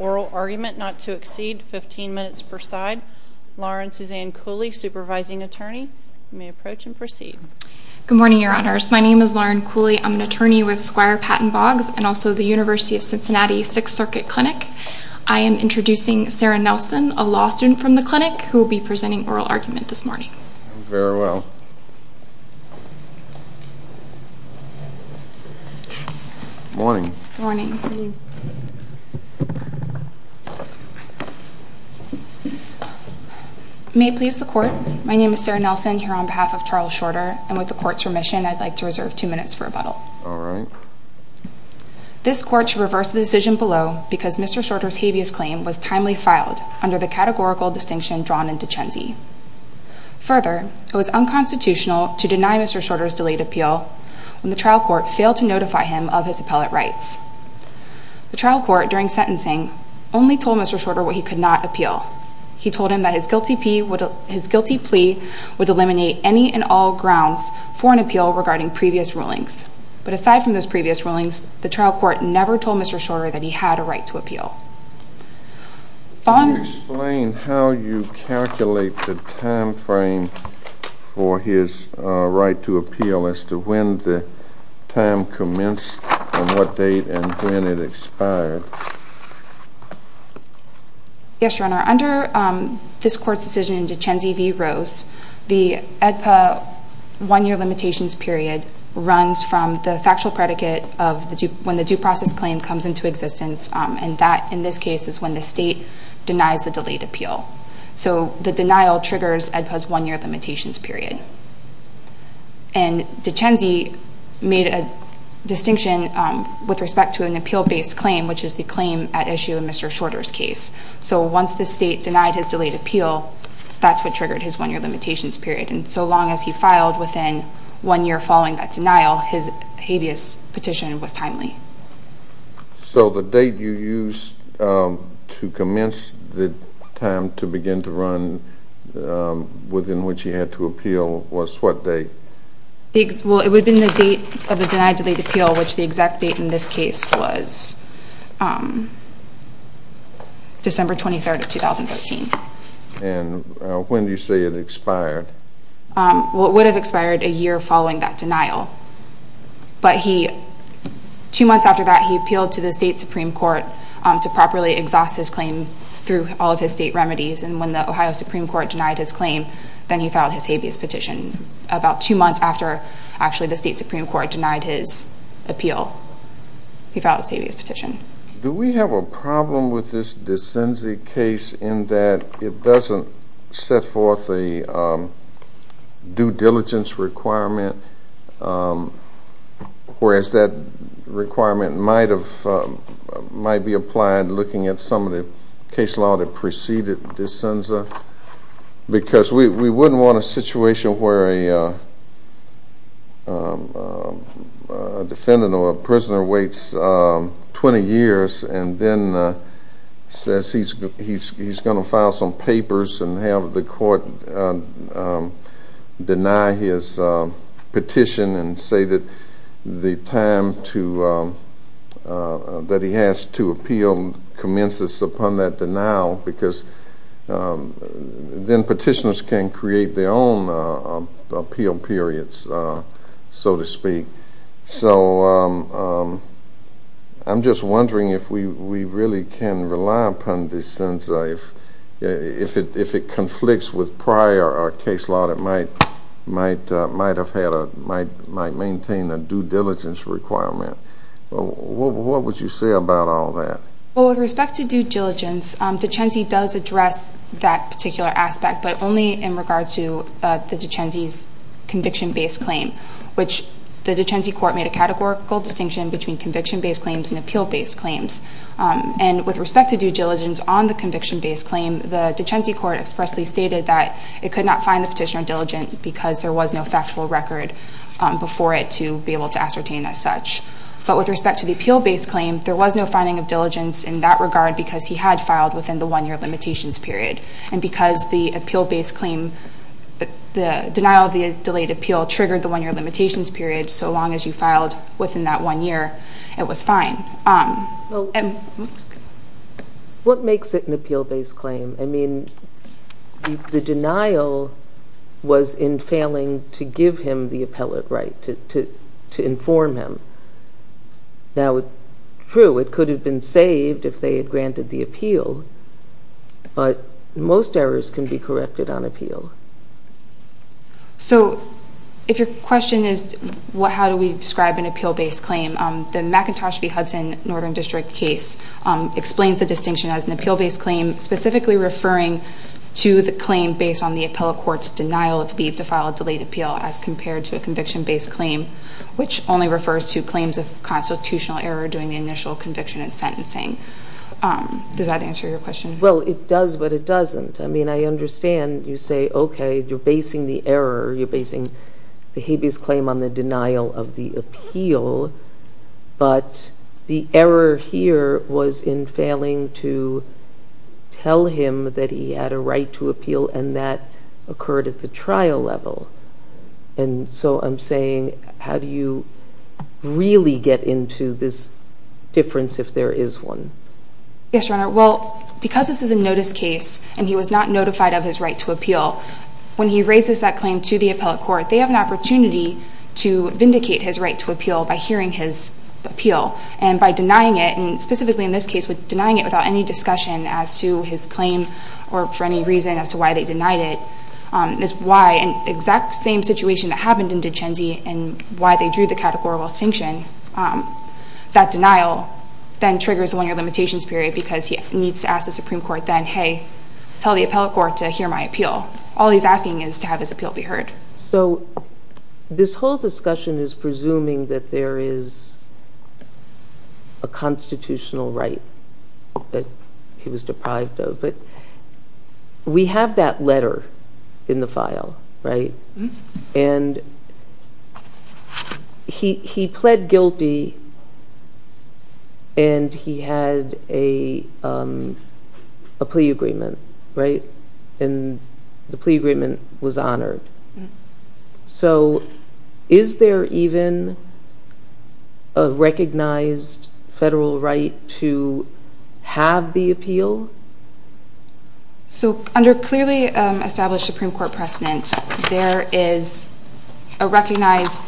Oral argument not to exceed 15 minutes per side. Lauren Suzanne Cooley, supervising attorney. You may approach and proceed. Good morning, your honors. My name is Lauren Cooley. I'm an attorney with Squire Patton Boggs and also the University of Cincinnati Sixth Circuit Clinic. I am introducing Sarah Nelson, a law student from the clinic, who will be presenting oral argument this morning. Very well. Morning. May it please the court. My name is Sarah Nelson, here on behalf of Charles Shorter, and with the court's permission, I'd like to reserve two minutes for rebuttal. All right. This court should reverse the decision below because Mr. Shorter's habeas claim was timely filed under the categorical distinction drawn in Duchenne. Further, it was unconstitutional to deny Mr. Shorter's delayed appeal when the trial court failed to notify him of his appellate rights. The trial court, during sentencing, only told Mr. Shorter what he could not appeal. He told him that his guilty plea would eliminate any and all grounds for an appeal regarding previous rulings. But aside from those previous rulings, the trial court never told Mr. Shorter that he had a right to appeal. Could you explain how you calculate the time frame for his right to appeal as to when the time commenced, and what date, and when it expired? Yes, Your Honor. Under this court's decision in Duchenne v. Rose, the AEDPA one-year limitations period runs from the factual predicate of when the due process claim comes into existence. And that, in this case, is when the state denies the delayed appeal. So the denial triggers AEDPA's one-year limitations period. And Duchenne made a distinction with respect to an appeal-based claim, which is the claim at issue in Mr. Shorter's case. So once the state denied his delayed appeal, that's what triggered his one-year limitations period. And so long as he filed within one year following that denial, his habeas petition was timely. So the date you used to commence the time to begin to run within which he had to appeal was what date? Well, it would have been the date of the denied delayed appeal, which the exact date in this case was December 23rd of 2013. And when do you say it expired? Well, it would have expired a year following that denial. But two months after that, he appealed to the state Supreme Court to properly exhaust his claim through all of his state remedies. And when the Ohio Supreme Court denied his claim, then he filed his habeas petition. About two months after, actually, the state Supreme Court denied his appeal, he filed his habeas petition. Do we have a problem with this DeCenza case in that it doesn't set forth a due diligence requirement, whereas that requirement might be applied looking at some of the case law that preceded DeCenza? Because we wouldn't want a situation where a defendant or a prisoner waits 20 years and then says he's going to file some papers and have the court deny his petition and say that the time that he has to appeal commences upon that denial, because then petitioners can create their own appeal periods, so to speak. So I'm just wondering if we really can rely upon DeCenza. If it conflicts with prior case law, it might maintain a due diligence requirement. What would you say about all that? Well, with respect to due diligence, DeCenza does address that particular aspect, but only in regards to the DeCenza's conviction-based claim, which the DeCenza court made a categorical distinction between conviction-based claims and appeal-based claims. And with respect to due diligence on the conviction-based claim, the DeCenza court expressly stated that it could not find the petitioner diligent because there was no factual record before it to be able to ascertain as such. But with respect to the appeal-based claim, there was no finding of diligence in that regard because he had filed within the one-year limitations period. And because the appeal-based claim, the denial of the delayed appeal triggered the one-year limitations period, so long as you filed within that one year, it was fine. What makes it an appeal-based claim? I mean, the denial was in failing to give him the appellate right to inform him. Now, true, it could have been saved if they had granted the appeal, but most errors can be corrected on appeal. So if your question is how do we describe an appeal-based claim, the McIntosh v. Hudson Northern District case explains the distinction as an appeal-based claim specifically referring to the claim based on the appellate court's denial of leave to file a delayed appeal as compared to a conviction-based claim, which only refers to claims of constitutional error during the initial conviction and sentencing. Does that answer your question? Well, it does, but it doesn't. I mean, I understand you say, okay, you're basing the error, you're basing the habeas claim on the denial of the appeal, but the error here was in failing to tell him that he had a right to appeal, and that occurred at the trial level. And so I'm saying how do you really get into this difference if there is one? Yes, Your Honor. Well, because this is a notice case and he was not notified of his right to appeal, when he raises that claim to the appellate court, they have an opportunity to vindicate his right to appeal by hearing his appeal and by denying it, and specifically in this case with denying it without any discussion as to his claim or for any reason as to why they denied it, is why in the exact same situation that happened in Duchenne and why they drew the categorical distinction, that denial then triggers a linear limitations period because he needs to ask the Supreme Court then, hey, tell the appellate court to hear my appeal. All he's asking is to have his appeal be heard. So this whole discussion is presuming that there is a constitutional right that he was deprived of, but we have that letter in the file, right? And he pled guilty and he had a plea agreement, right? And the plea agreement was honored. So is there even a recognized federal right to have the appeal? So under clearly established Supreme Court precedent, it is recognized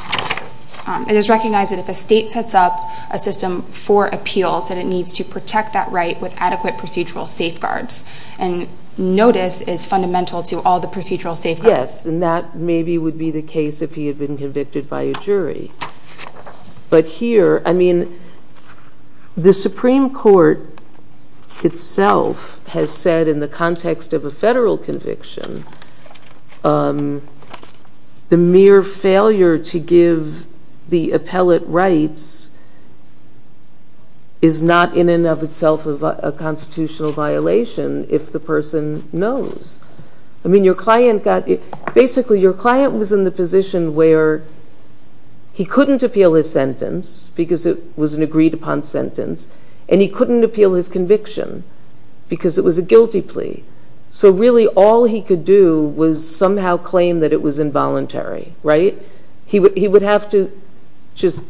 that if a state sets up a system for appeals, that it needs to protect that right with adequate procedural safeguards, and notice is fundamental to all the procedural safeguards. Yes, and that maybe would be the case if he had been convicted by a jury. But here, I mean, the Supreme Court itself has said in the context of a federal conviction, the mere failure to give the appellate rights is not in and of itself a constitutional violation if the person knows. I mean, basically your client was in the position where he couldn't appeal his sentence because it was an agreed upon sentence, and he couldn't appeal his conviction because it was a guilty plea. So really all he could do was somehow claim that it was involuntary, right? He would have to just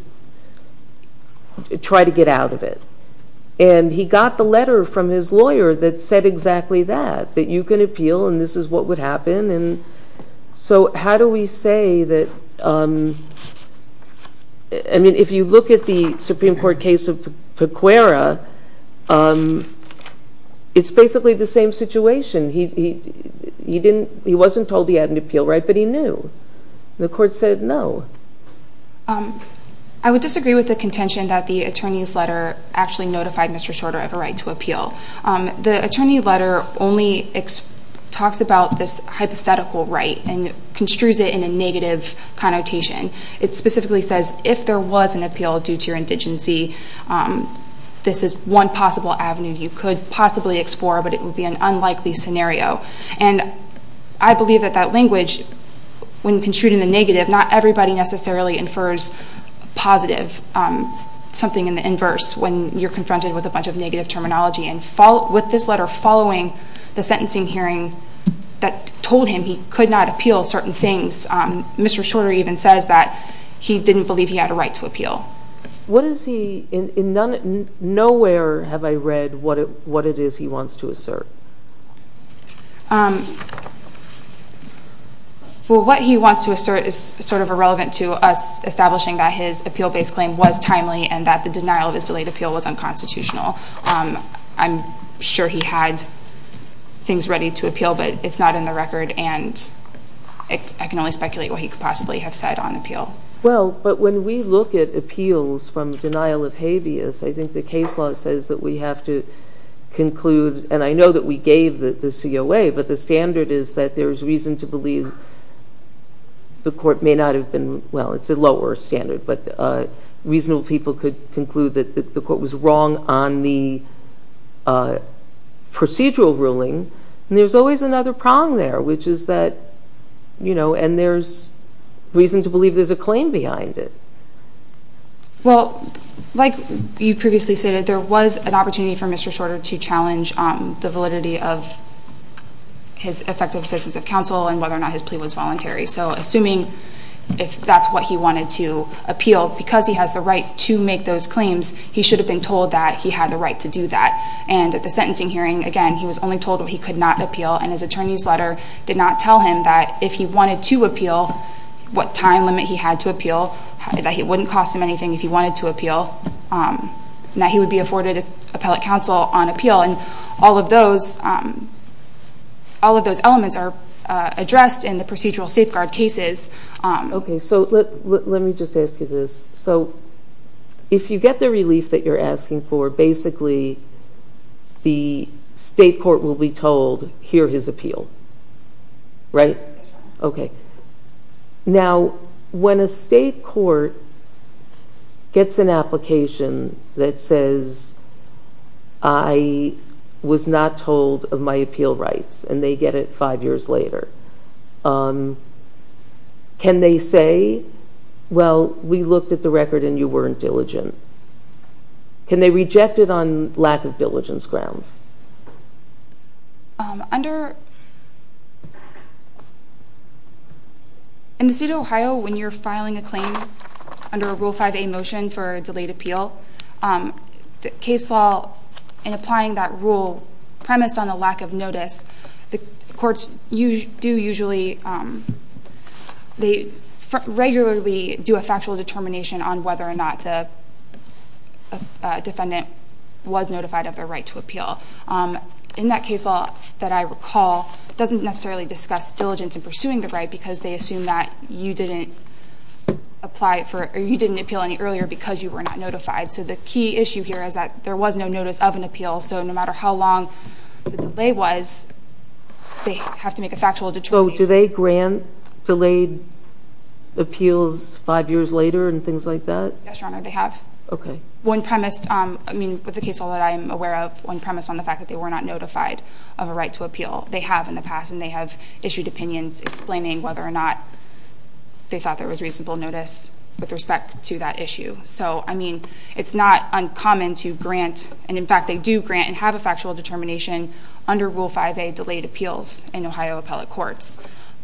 try to get out of it. And he got the letter from his lawyer that said exactly that, that you can appeal and this is what would happen. So how do we say that, I mean, if you look at the Supreme Court case of Pequera, it's basically the same situation. He wasn't told he had an appeal right, but he knew. The court said no. I would disagree with the contention that the attorney's letter actually notified Mr. Shorter of a right to appeal. The attorney letter only talks about this hypothetical right and construes it in a negative connotation. It specifically says if there was an appeal due to your indigency, this is one possible avenue you could possibly explore, but it would be an unlikely scenario. And I believe that that language, when construed in the negative, not everybody necessarily infers positive, something in the inverse, when you're confronted with a bunch of negative terminology. And with this letter following the sentencing hearing that told him he could not appeal certain things, Mr. Shorter even says that he didn't believe he had a right to appeal. What is he, in nowhere have I read what it is he wants to assert. Well, what he wants to assert is sort of irrelevant to us establishing that his appeal-based claim was timely and that the denial of his delayed appeal was unconstitutional. I'm sure he had things ready to appeal, but it's not in the record, and I can only speculate what he could possibly have said on appeal. Well, but when we look at appeals from denial of habeas, I think the case law says that we have to conclude, and I know that we gave the COA, but the standard is that there's reason to believe the court may not have been, well, it's a lower standard, but reasonable people could conclude that the court was wrong on the procedural ruling. And there's always another prong there, which is that, you know, and there's reason to believe there's a claim behind it. Well, like you previously stated, there was an opportunity for Mr. Shorter to challenge the validity of his effective assistance of counsel and whether or not his plea was voluntary. So assuming if that's what he wanted to appeal, because he has the right to make those claims, he should have been told that he had the right to do that. And at the sentencing hearing, again, he was only told he could not appeal, and his attorney's letter did not tell him that if he wanted to appeal, what time limit he had to appeal, that it wouldn't cost him anything if he wanted to appeal, and that he would be afforded appellate counsel on appeal, and all of those elements are addressed in the procedural safeguard cases. Okay, so let me just ask you this. So if you get the relief that you're asking for, basically the state court will be told, Right? Okay. Now, when a state court gets an application that says, I was not told of my appeal rights, and they get it five years later, can they say, well, we looked at the record and you weren't diligent? Can they reject it on lack of diligence grounds? In the state of Ohio, when you're filing a claim under a Rule 5a motion for a delayed appeal, the case law in applying that rule premised on a lack of notice. The courts do usually, they regularly do a factual determination on whether or not the defendant was notified of their right to appeal. In that case law that I recall, it doesn't necessarily discuss diligence in pursuing the right, because they assume that you didn't appeal any earlier because you were not notified. So the key issue here is that there was no notice of an appeal, so no matter how long the delay was, they have to make a factual determination. So do they grant delayed appeals five years later and things like that? Yes, Your Honor, they have. Okay. One premised, I mean, with the case law that I am aware of, one premised on the fact that they were not notified of a right to appeal. They have in the past, and they have issued opinions explaining whether or not they thought there was reasonable notice with respect to that issue. So, I mean, it's not uncommon to grant, and in fact they do grant and have a factual determination under Rule 5a, delayed appeals in Ohio appellate courts.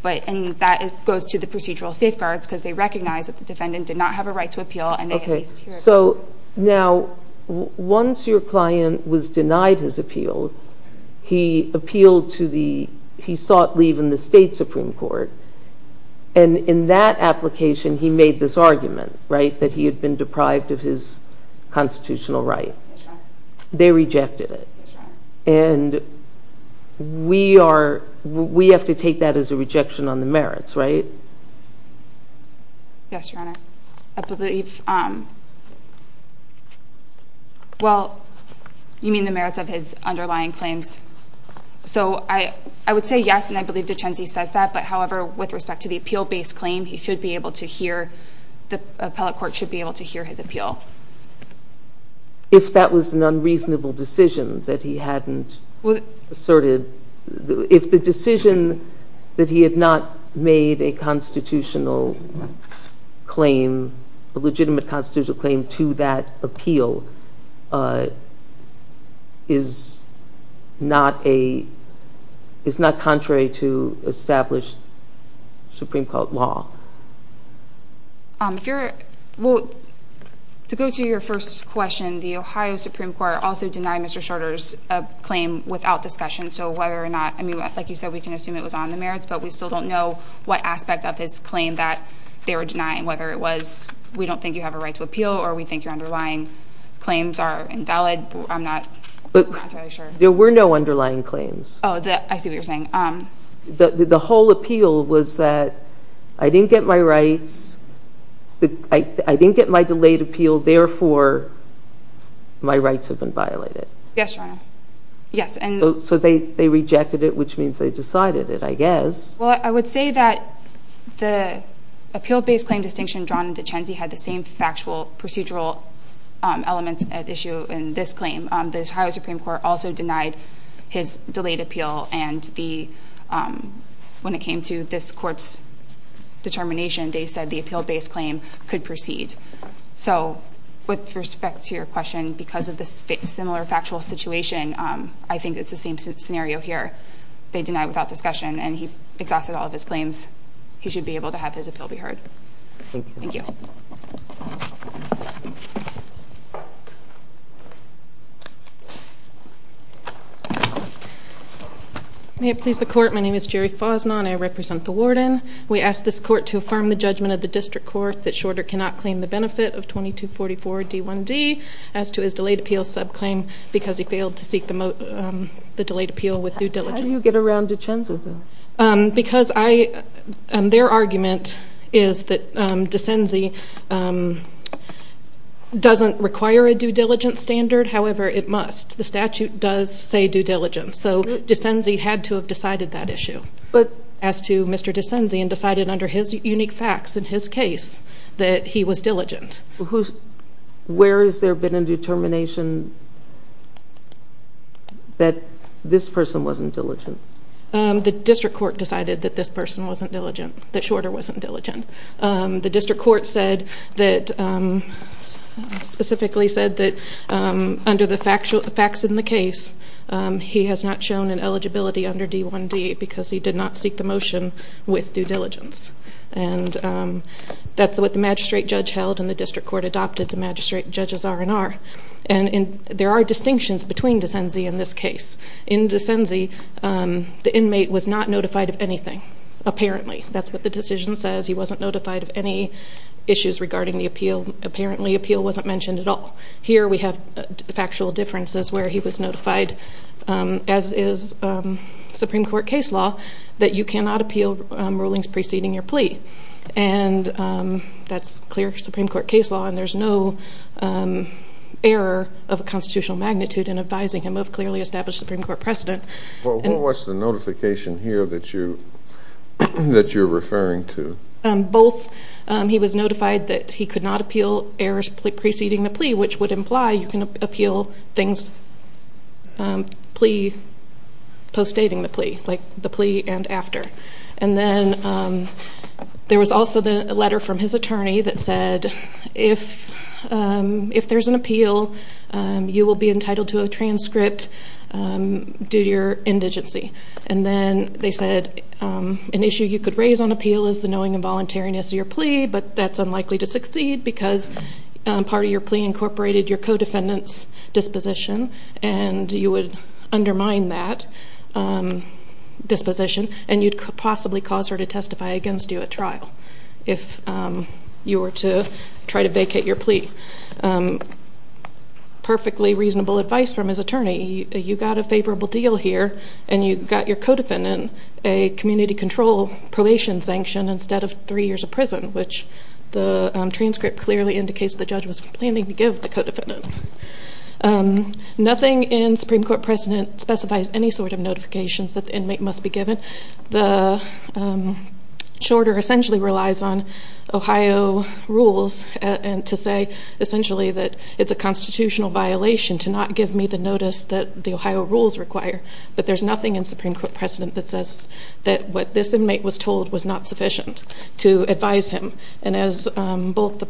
And that goes to the procedural safeguards because they recognize that the defendant did not have a right to appeal and they at least hear about it. So now once your client was denied his appeal, he appealed to the— he sought leave in the state Supreme Court, and in that application he made this argument, right, that he had been deprived of his constitutional right. Yes, Your Honor. They rejected it. Yes, Your Honor. And we are—we have to take that as a rejection on the merits, right? Yes, Your Honor. I believe—well, you mean the merits of his underlying claims. So I would say yes, and I believe Duchenne says that, but however, with respect to the appeal-based claim, he should be able to hear— the appellate court should be able to hear his appeal. If that was an unreasonable decision that he hadn't asserted, if the decision that he had not made a constitutional claim, a legitimate constitutional claim to that appeal is not a— is not contrary to established Supreme Court law. If you're—well, to go to your first question, the Ohio Supreme Court also denied Mr. Shorter's claim without discussion, so whether or not—I mean, like you said, we can assume it was on the merits, but we still don't know what aspect of his claim that they were denying, whether it was we don't think you have a right to appeal or we think your underlying claims are invalid. I'm not entirely sure. There were no underlying claims. Oh, I see what you're saying. The whole appeal was that I didn't get my rights— I didn't get my delayed appeal, therefore my rights have been violated. Yes, Your Honor. Yes, and— So they rejected it, which means they decided it, I guess. Well, I would say that the appeal-based claim distinction drawn in DeCenzi had the same factual procedural elements at issue in this claim. The Ohio Supreme Court also denied his delayed appeal, and when it came to this court's determination, they said the appeal-based claim could proceed. So with respect to your question, because of the similar factual situation, I think it's the same scenario here. They deny without discussion, and he exhausted all of his claims. He should be able to have his appeal be heard. Thank you. Thank you. May it please the Court. My name is Jerry Fosnon. I represent the Warden. We ask this Court to affirm the judgment of the District Court that Shorter cannot claim the benefit of 2244 D1D as to his delayed appeal subclaim because he failed to seek the delayed appeal with due diligence. How do you get around DeCenzi, though? Because their argument is that DeCenzi doesn't require a due diligence standard. However, it must. The statute does say due diligence. So DeCenzi had to have decided that issue as to Mr. DeCenzi and decided under his unique facts in his case that he was diligent. Where has there been a determination that this person wasn't diligent? The District Court decided that this person wasn't diligent, that Shorter wasn't diligent. The District Court specifically said that under the facts in the case, he has not shown an eligibility under D1D because he did not seek the motion with due diligence. And that's what the magistrate judge held and the District Court adopted the magistrate judge's R&R. And there are distinctions between DeCenzi and this case. In DeCenzi, the inmate was not notified of anything, apparently. That's what the decision says. He wasn't notified of any issues regarding the appeal. Apparently, appeal wasn't mentioned at all. Here we have factual differences where he was notified, as is Supreme Court case law, that you cannot appeal rulings preceding your plea. And that's clear Supreme Court case law. And there's no error of a constitutional magnitude in advising him of clearly established Supreme Court precedent. What was the notification here that you're referring to? Both he was notified that he could not appeal errors preceding the plea, which would imply you can appeal things postdating the plea, like the plea and after. And then there was also a letter from his attorney that said, if there's an appeal, you will be entitled to a transcript due to your indigency. And then they said an issue you could raise on appeal is the knowing and voluntariness of your plea, but that's unlikely to succeed because part of your plea incorporated your co-defendant's disposition and you would undermine that disposition and you'd possibly cause her to testify against you at trial if you were to try to vacate your plea. Perfectly reasonable advice from his attorney. You got a favorable deal here and you got your co-defendant a community control probation sanction instead of three years of prison, which the transcript clearly indicates the judge was planning to give the co-defendant. Nothing in Supreme Court precedent specifies any sort of notifications that the inmate must be given. The shorter essentially relies on Ohio rules to say essentially that it's a constitutional violation to not give me the notice that the Ohio rules require, but there's nothing in Supreme Court precedent that says that what this inmate was told was not sufficient to advise him. And as both the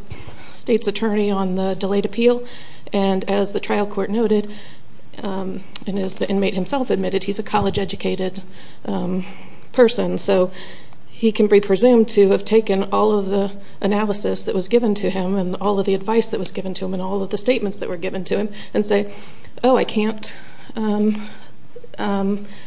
state's attorney on the delayed appeal and as the trial court noted and as the inmate himself admitted, he's a college-educated person, so he can be presumed to have taken all of the analysis that was given to him and all of the advice that was given to him and all of the statements that were given to him and say, oh, I can't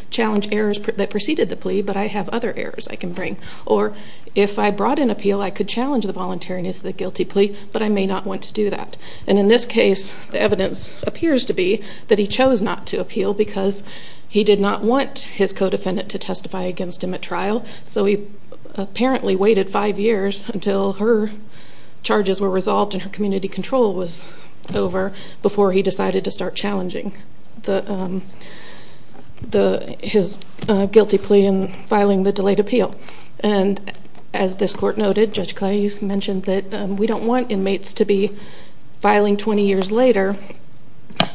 challenge errors that preceded the plea, but I have other errors I can bring. Or if I brought an appeal, I could challenge the voluntariness of the guilty plea, but I may not want to do that. And in this case, the evidence appears to be that he chose not to appeal because he did not want his co-defendant to testify against him at trial, so he apparently waited five years until her charges were resolved and her community control was over before he decided to start challenging his guilty plea and filing the delayed appeal. And as this court noted, Judge Clay mentioned that we don't want inmates to be filing 20 years later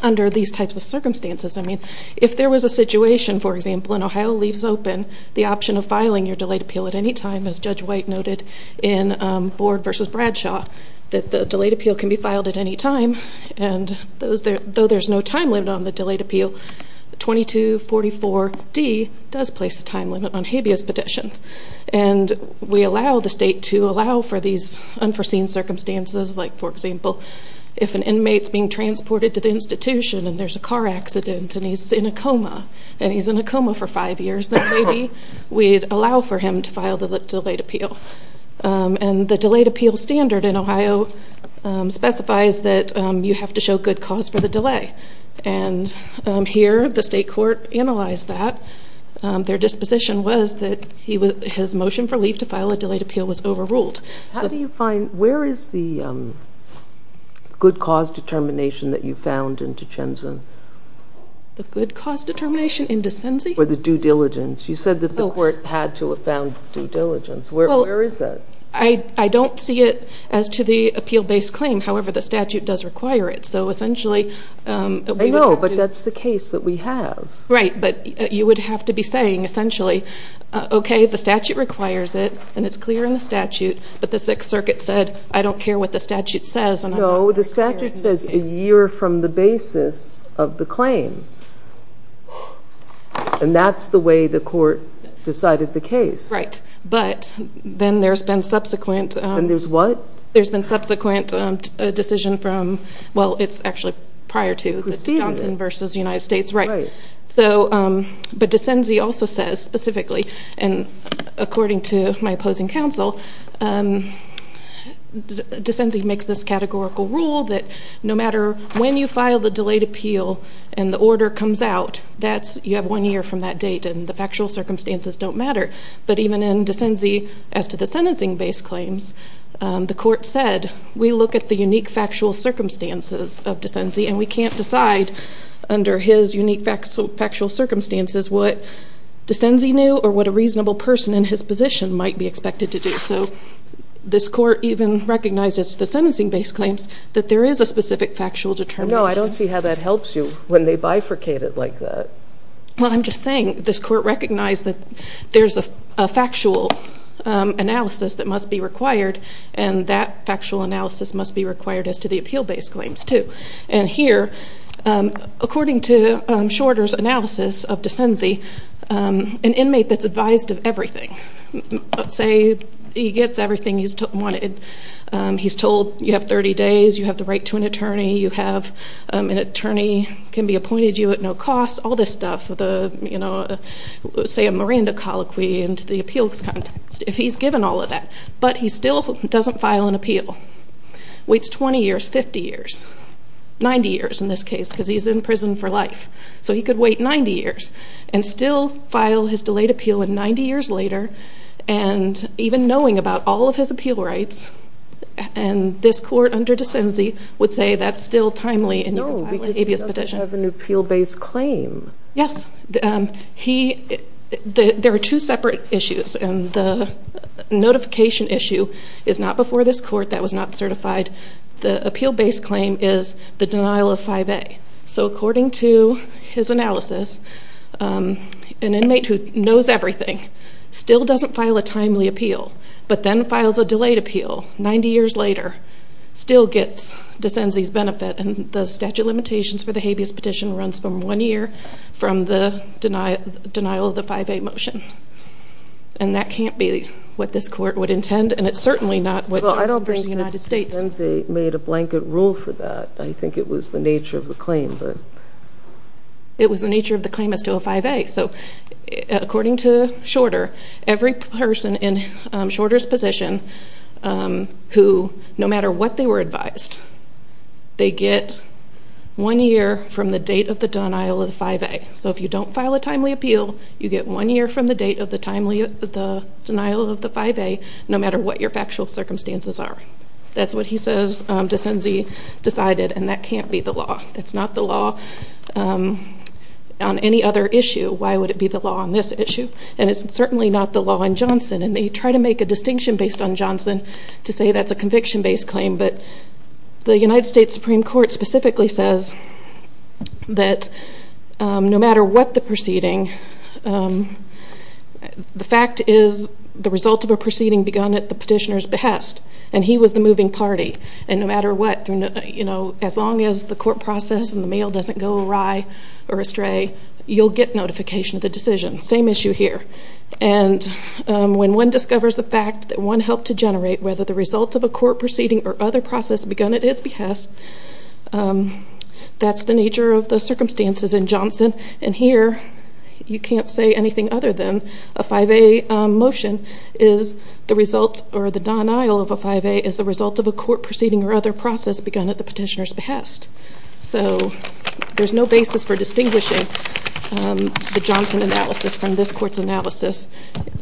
under these types of circumstances. I mean, if there was a situation, for example, in Ohio Leaves Open, the option of filing your delayed appeal at any time, as Judge White noted in Board v. Bradshaw, that the delayed appeal can be filed at any time, and though there's no time limit on the delayed appeal, 2244D does place a time limit on habeas petitions. And we allow the state to allow for these unforeseen circumstances, like, for example, if an inmate's being transported to the institution and there's a car accident and he's in a coma and he's in a coma for five years, then maybe we'd allow for him to file the delayed appeal. And the delayed appeal standard in Ohio specifies that you have to show good cause for the delay. And here, the state court analyzed that. Their disposition was that his motion for leave to file a delayed appeal was overruled. How do you find, where is the good cause determination that you found in Duchenne's? The good cause determination in Duchenne's? For the due diligence. You said that the court had to have found due diligence. Where is that? I don't see it as to the appeal-based claim. However, the statute does require it. So, essentially, we would have to- I know, but that's the case that we have. Right, but you would have to be saying, essentially, okay, the statute requires it and it's clear in the statute, but the Sixth Circuit said I don't care what the statute says- No, the statute says a year from the basis of the claim. And that's the way the court decided the case. Right, but then there's been subsequent- And there's what? There's been subsequent decision from, well, it's actually prior to- Proceeding. Johnson v. United States, right. Right. But DeCenzi also says, specifically, and according to my opposing counsel, DeCenzi makes this categorical rule that no matter when you file the delayed appeal and the order comes out, you have one year from that date and the factual circumstances don't matter. But even in DeCenzi, as to the sentencing-based claims, the court said, we look at the unique factual circumstances of DeCenzi and we can't decide under his unique factual circumstances what DeCenzi knew or what a reasonable person in his position might be expected to do. So this court even recognizes the sentencing-based claims that there is a specific factual determination. No, I don't see how that helps you when they bifurcate it like that. Well, I'm just saying this court recognized that there's a factual analysis that must be required and that factual analysis must be required as to the appeal-based claims, too. And here, according to Shorter's analysis of DeCenzi, an inmate that's advised of everything, let's say he gets everything he's wanted, he's told you have 30 days, you have the right to an attorney, you have an attorney can be appointed to you at no cost, all this stuff, say a Miranda colloquy into the appeals context. If he's given all of that, but he still doesn't file an appeal, waits 20 years, 50 years, 90 years in this case because he's in prison for life. So he could wait 90 years and still file his delayed appeal, and 90 years later, and even knowing about all of his appeal rights, and this court under DeCenzi would say that's still timely and you can file an abuse petition. No, because he doesn't have an appeal-based claim. Yes. There are two separate issues, and the notification issue is not before this court. That was not certified. The appeal-based claim is the denial of 5A. So according to his analysis, an inmate who knows everything still doesn't file a timely appeal, but then files a delayed appeal 90 years later, still gets DeCenzi's benefit, and the statute of limitations for the habeas petition runs from one year from the denial of the 5A motion. And that can't be what this court would intend, and it's certainly not what judges in the United States. Well, I don't think DeCenzi made a blanket rule for that. I think it was the nature of the claim. It was the nature of the claim as to a 5A. So according to Shorter, every person in Shorter's position who, no matter what they were advised, they get one year from the date of the denial of the 5A. So if you don't file a timely appeal, you get one year from the date of the denial of the 5A, no matter what your factual circumstances are. That's what he says DeCenzi decided, and that can't be the law. It's not the law on any other issue. Why would it be the law on this issue? And it's certainly not the law in Johnson, and they try to make a distinction based on Johnson to say that's a conviction-based claim. But the United States Supreme Court specifically says that no matter what the proceeding, the fact is the result of a proceeding begun at the petitioner's behest, and he was the moving party. And no matter what, as long as the court process and the mail doesn't go awry or astray, you'll get notification of the decision. Same issue here. And when one discovers the fact that one helped to generate whether the result of a court proceeding or other process begun at his behest, that's the nature of the circumstances in Johnson. And here you can't say anything other than a 5A motion is the result or the denial of a 5A is the result of a court proceeding or other process begun at the petitioner's behest. So there's no basis for distinguishing the Johnson analysis from this court's analysis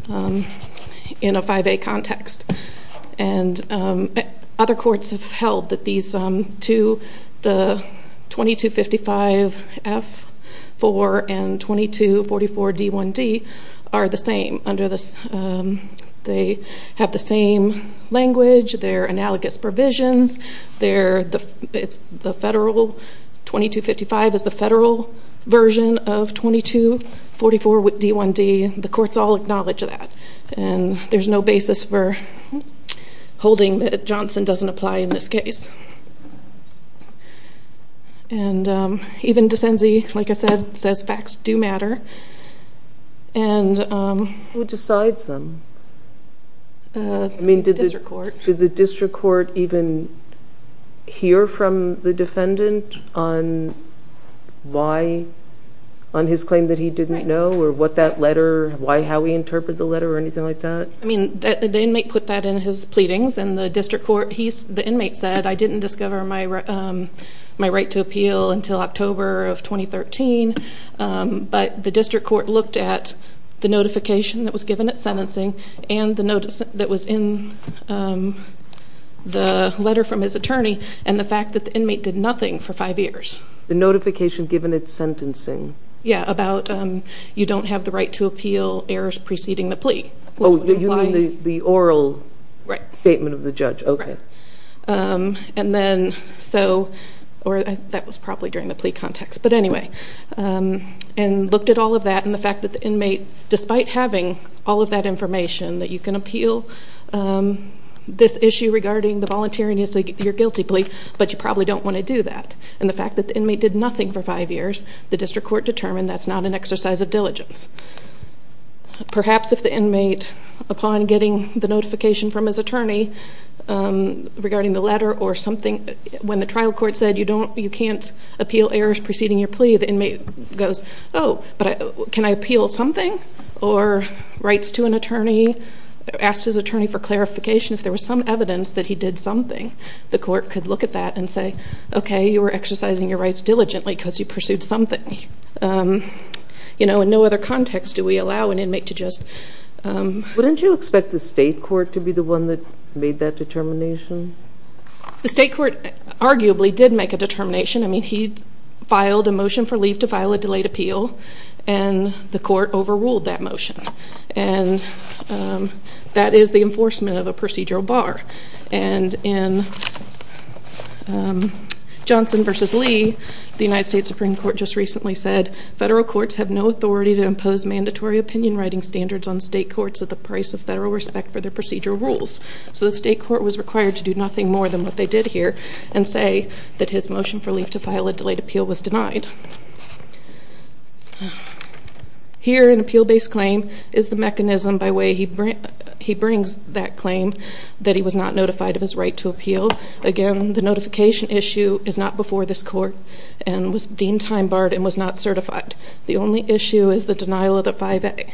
in a 5A context. And other courts have held that these two, the 2255F4 and 2244D1D, are the same. They have the same language. They're analogous provisions. It's the federal, 2255 is the federal version of 2244 with D1D. The courts all acknowledge that. And there's no basis for holding that Johnson doesn't apply in this case. And even DeCenzi, like I said, says facts do matter. Who decides them? The district court. Did the district court even hear from the defendant on why, on his claim that he didn't know, or what that letter, how he interpreted the letter or anything like that? The inmate put that in his pleadings, and the district court, the inmate said, I didn't discover my right to appeal until October of 2013. But the district court looked at the notification that was given at sentencing and the notice that was in the letter from his attorney, and the fact that the inmate did nothing for five years. The notification given at sentencing. Yeah, about you don't have the right to appeal errors preceding the plea. Oh, you mean the oral statement of the judge. And then, so, or that was probably during the plea context. But anyway, and looked at all of that, and the fact that the inmate, despite having all of that information that you can appeal this issue regarding the volunteering, you're guilty plea, but you probably don't want to do that. And the fact that the inmate did nothing for five years, perhaps if the inmate, upon getting the notification from his attorney regarding the letter or something, when the trial court said you can't appeal errors preceding your plea, the inmate goes, oh, but can I appeal something? Or writes to an attorney, asks his attorney for clarification. If there was some evidence that he did something, the court could look at that and say, okay, you were exercising your rights diligently because you pursued something. You know, in no other context do we allow an inmate to just... Wouldn't you expect the state court to be the one that made that determination? The state court arguably did make a determination. I mean, he filed a motion for leave to file a delayed appeal, and the court overruled that motion. And that is the enforcement of a procedural bar. And in Johnson v. Lee, the United States Supreme Court just recently said, federal courts have no authority to impose mandatory opinion writing standards on state courts at the price of federal respect for their procedural rules. So the state court was required to do nothing more than what they did here and say that his motion for leave to file a delayed appeal was denied. Here, an appeal-based claim is the mechanism by way he brings that claim that he was not notified of his right to appeal. Again, the notification issue is not before this court and was deemed time-barred and was not certified. The only issue is the denial of the 5A.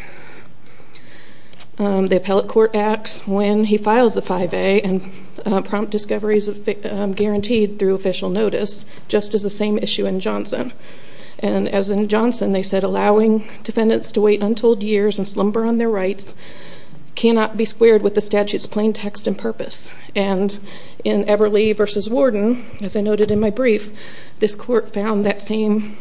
The appellate court acts when he files the 5A and prompt discoveries are guaranteed through official notice, just as the same issue in Johnson. And as in Johnson, they said, allowing defendants to wait untold years and slumber on their rights cannot be squared with the statute's plain text and purpose. And in Everly v. Warden, as I noted in my brief, this court found that same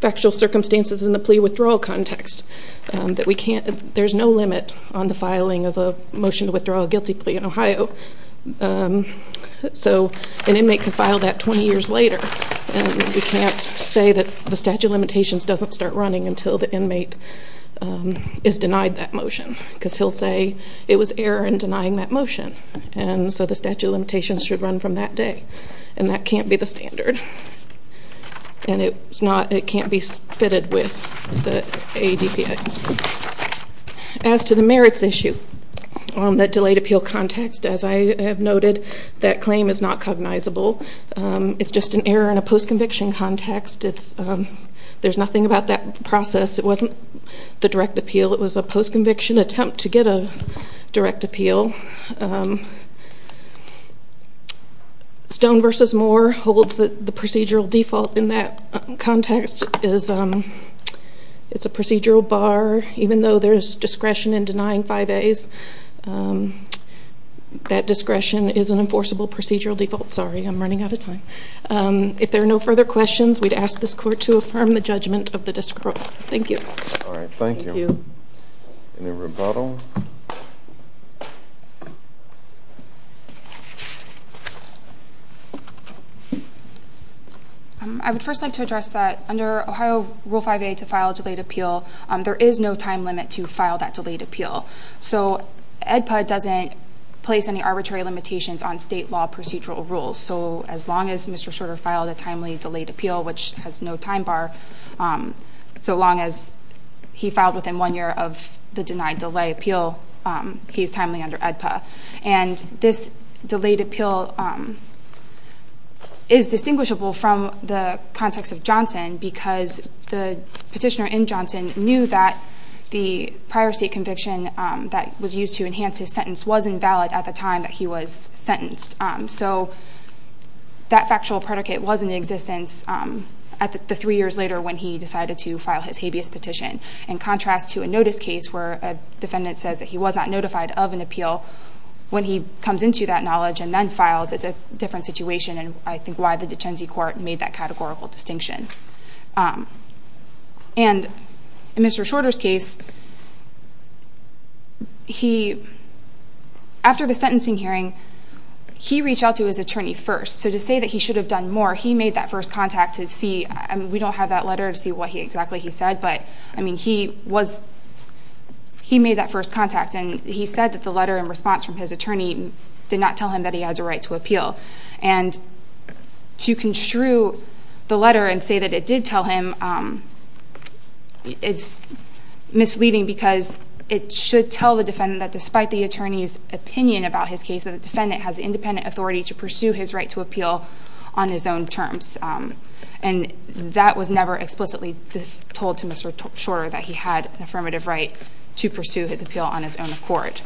factual circumstances in the plea withdrawal context, that there's no limit on the filing of a motion to withdraw a guilty plea in Ohio. So an inmate can file that 20 years later. And we can't say that the statute of limitations doesn't start running until the inmate is denied that motion because he'll say it was error in denying that motion. And so the statute of limitations should run from that day. And that can't be the standard. And it can't be fitted with the ADPA. As to the merits issue on that delayed appeal context, as I have noted, that claim is not cognizable. It's just an error in a post-conviction context. There's nothing about that process. It wasn't the direct appeal. It was a post-conviction attempt to get a direct appeal. Stone v. Moore holds that the procedural default in that context is it's a procedural bar, even though there's discretion in denying 5 As. That discretion is an enforceable procedural default. Sorry, I'm running out of time. If there are no further questions, we'd ask this court to affirm the judgment of the district court. Thank you. All right, thank you. Any rebuttal? Thank you. I would first like to address that under Ohio Rule 5A to file a delayed appeal, there is no time limit to file that delayed appeal. So ADPA doesn't place any arbitrary limitations on state law procedural rules. So as long as Mr. Shorter filed a timely delayed appeal, which has no time bar, so long as he filed within one year of the denied delay appeal, he's timely under ADPA. And this delayed appeal is distinguishable from the context of Johnson because the petitioner in Johnson knew that the prior state conviction that was used to enhance his sentence wasn't valid at the time that he was sentenced. So that factual predicate was in existence at the three years later when he decided to file his habeas petition. In contrast to a notice case where a defendant says that he was not notified of an appeal, when he comes into that knowledge and then files, it's a different situation, and I think why the Duchenne court made that categorical distinction. And in Mr. Shorter's case, after the sentencing hearing, he reached out to his attorney first. So to say that he should have done more, he made that first contact to see, we don't have that letter to see what exactly he said, but he made that first contact and he said that the letter in response from his attorney did not tell him that he had a right to appeal. And to construe the letter and say that it did tell him, it's misleading because it should tell the defendant that despite the attorney's opinion about his case, that the defendant has independent authority to pursue his right to appeal on his own terms. And that was never explicitly told to Mr. Shorter, that he had an affirmative right to pursue his appeal on his own accord.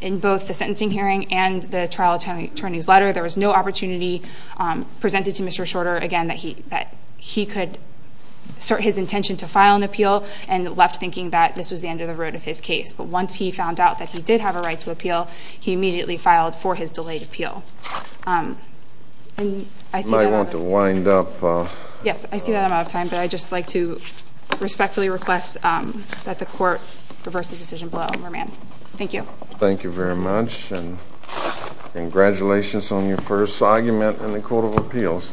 In both the sentencing hearing and the trial attorney's letter, there was no opportunity presented to Mr. Shorter, again, that he could assert his intention to file an appeal and left thinking that this was the end of the road of his case. But once he found out that he did have a right to appeal, he immediately filed for his delayed appeal. And I see that I'm out of time, but I'd just like to respectfully request that the court reverse the decision below. Thank you. Thank you very much and congratulations on your first argument in the Court of Appeals.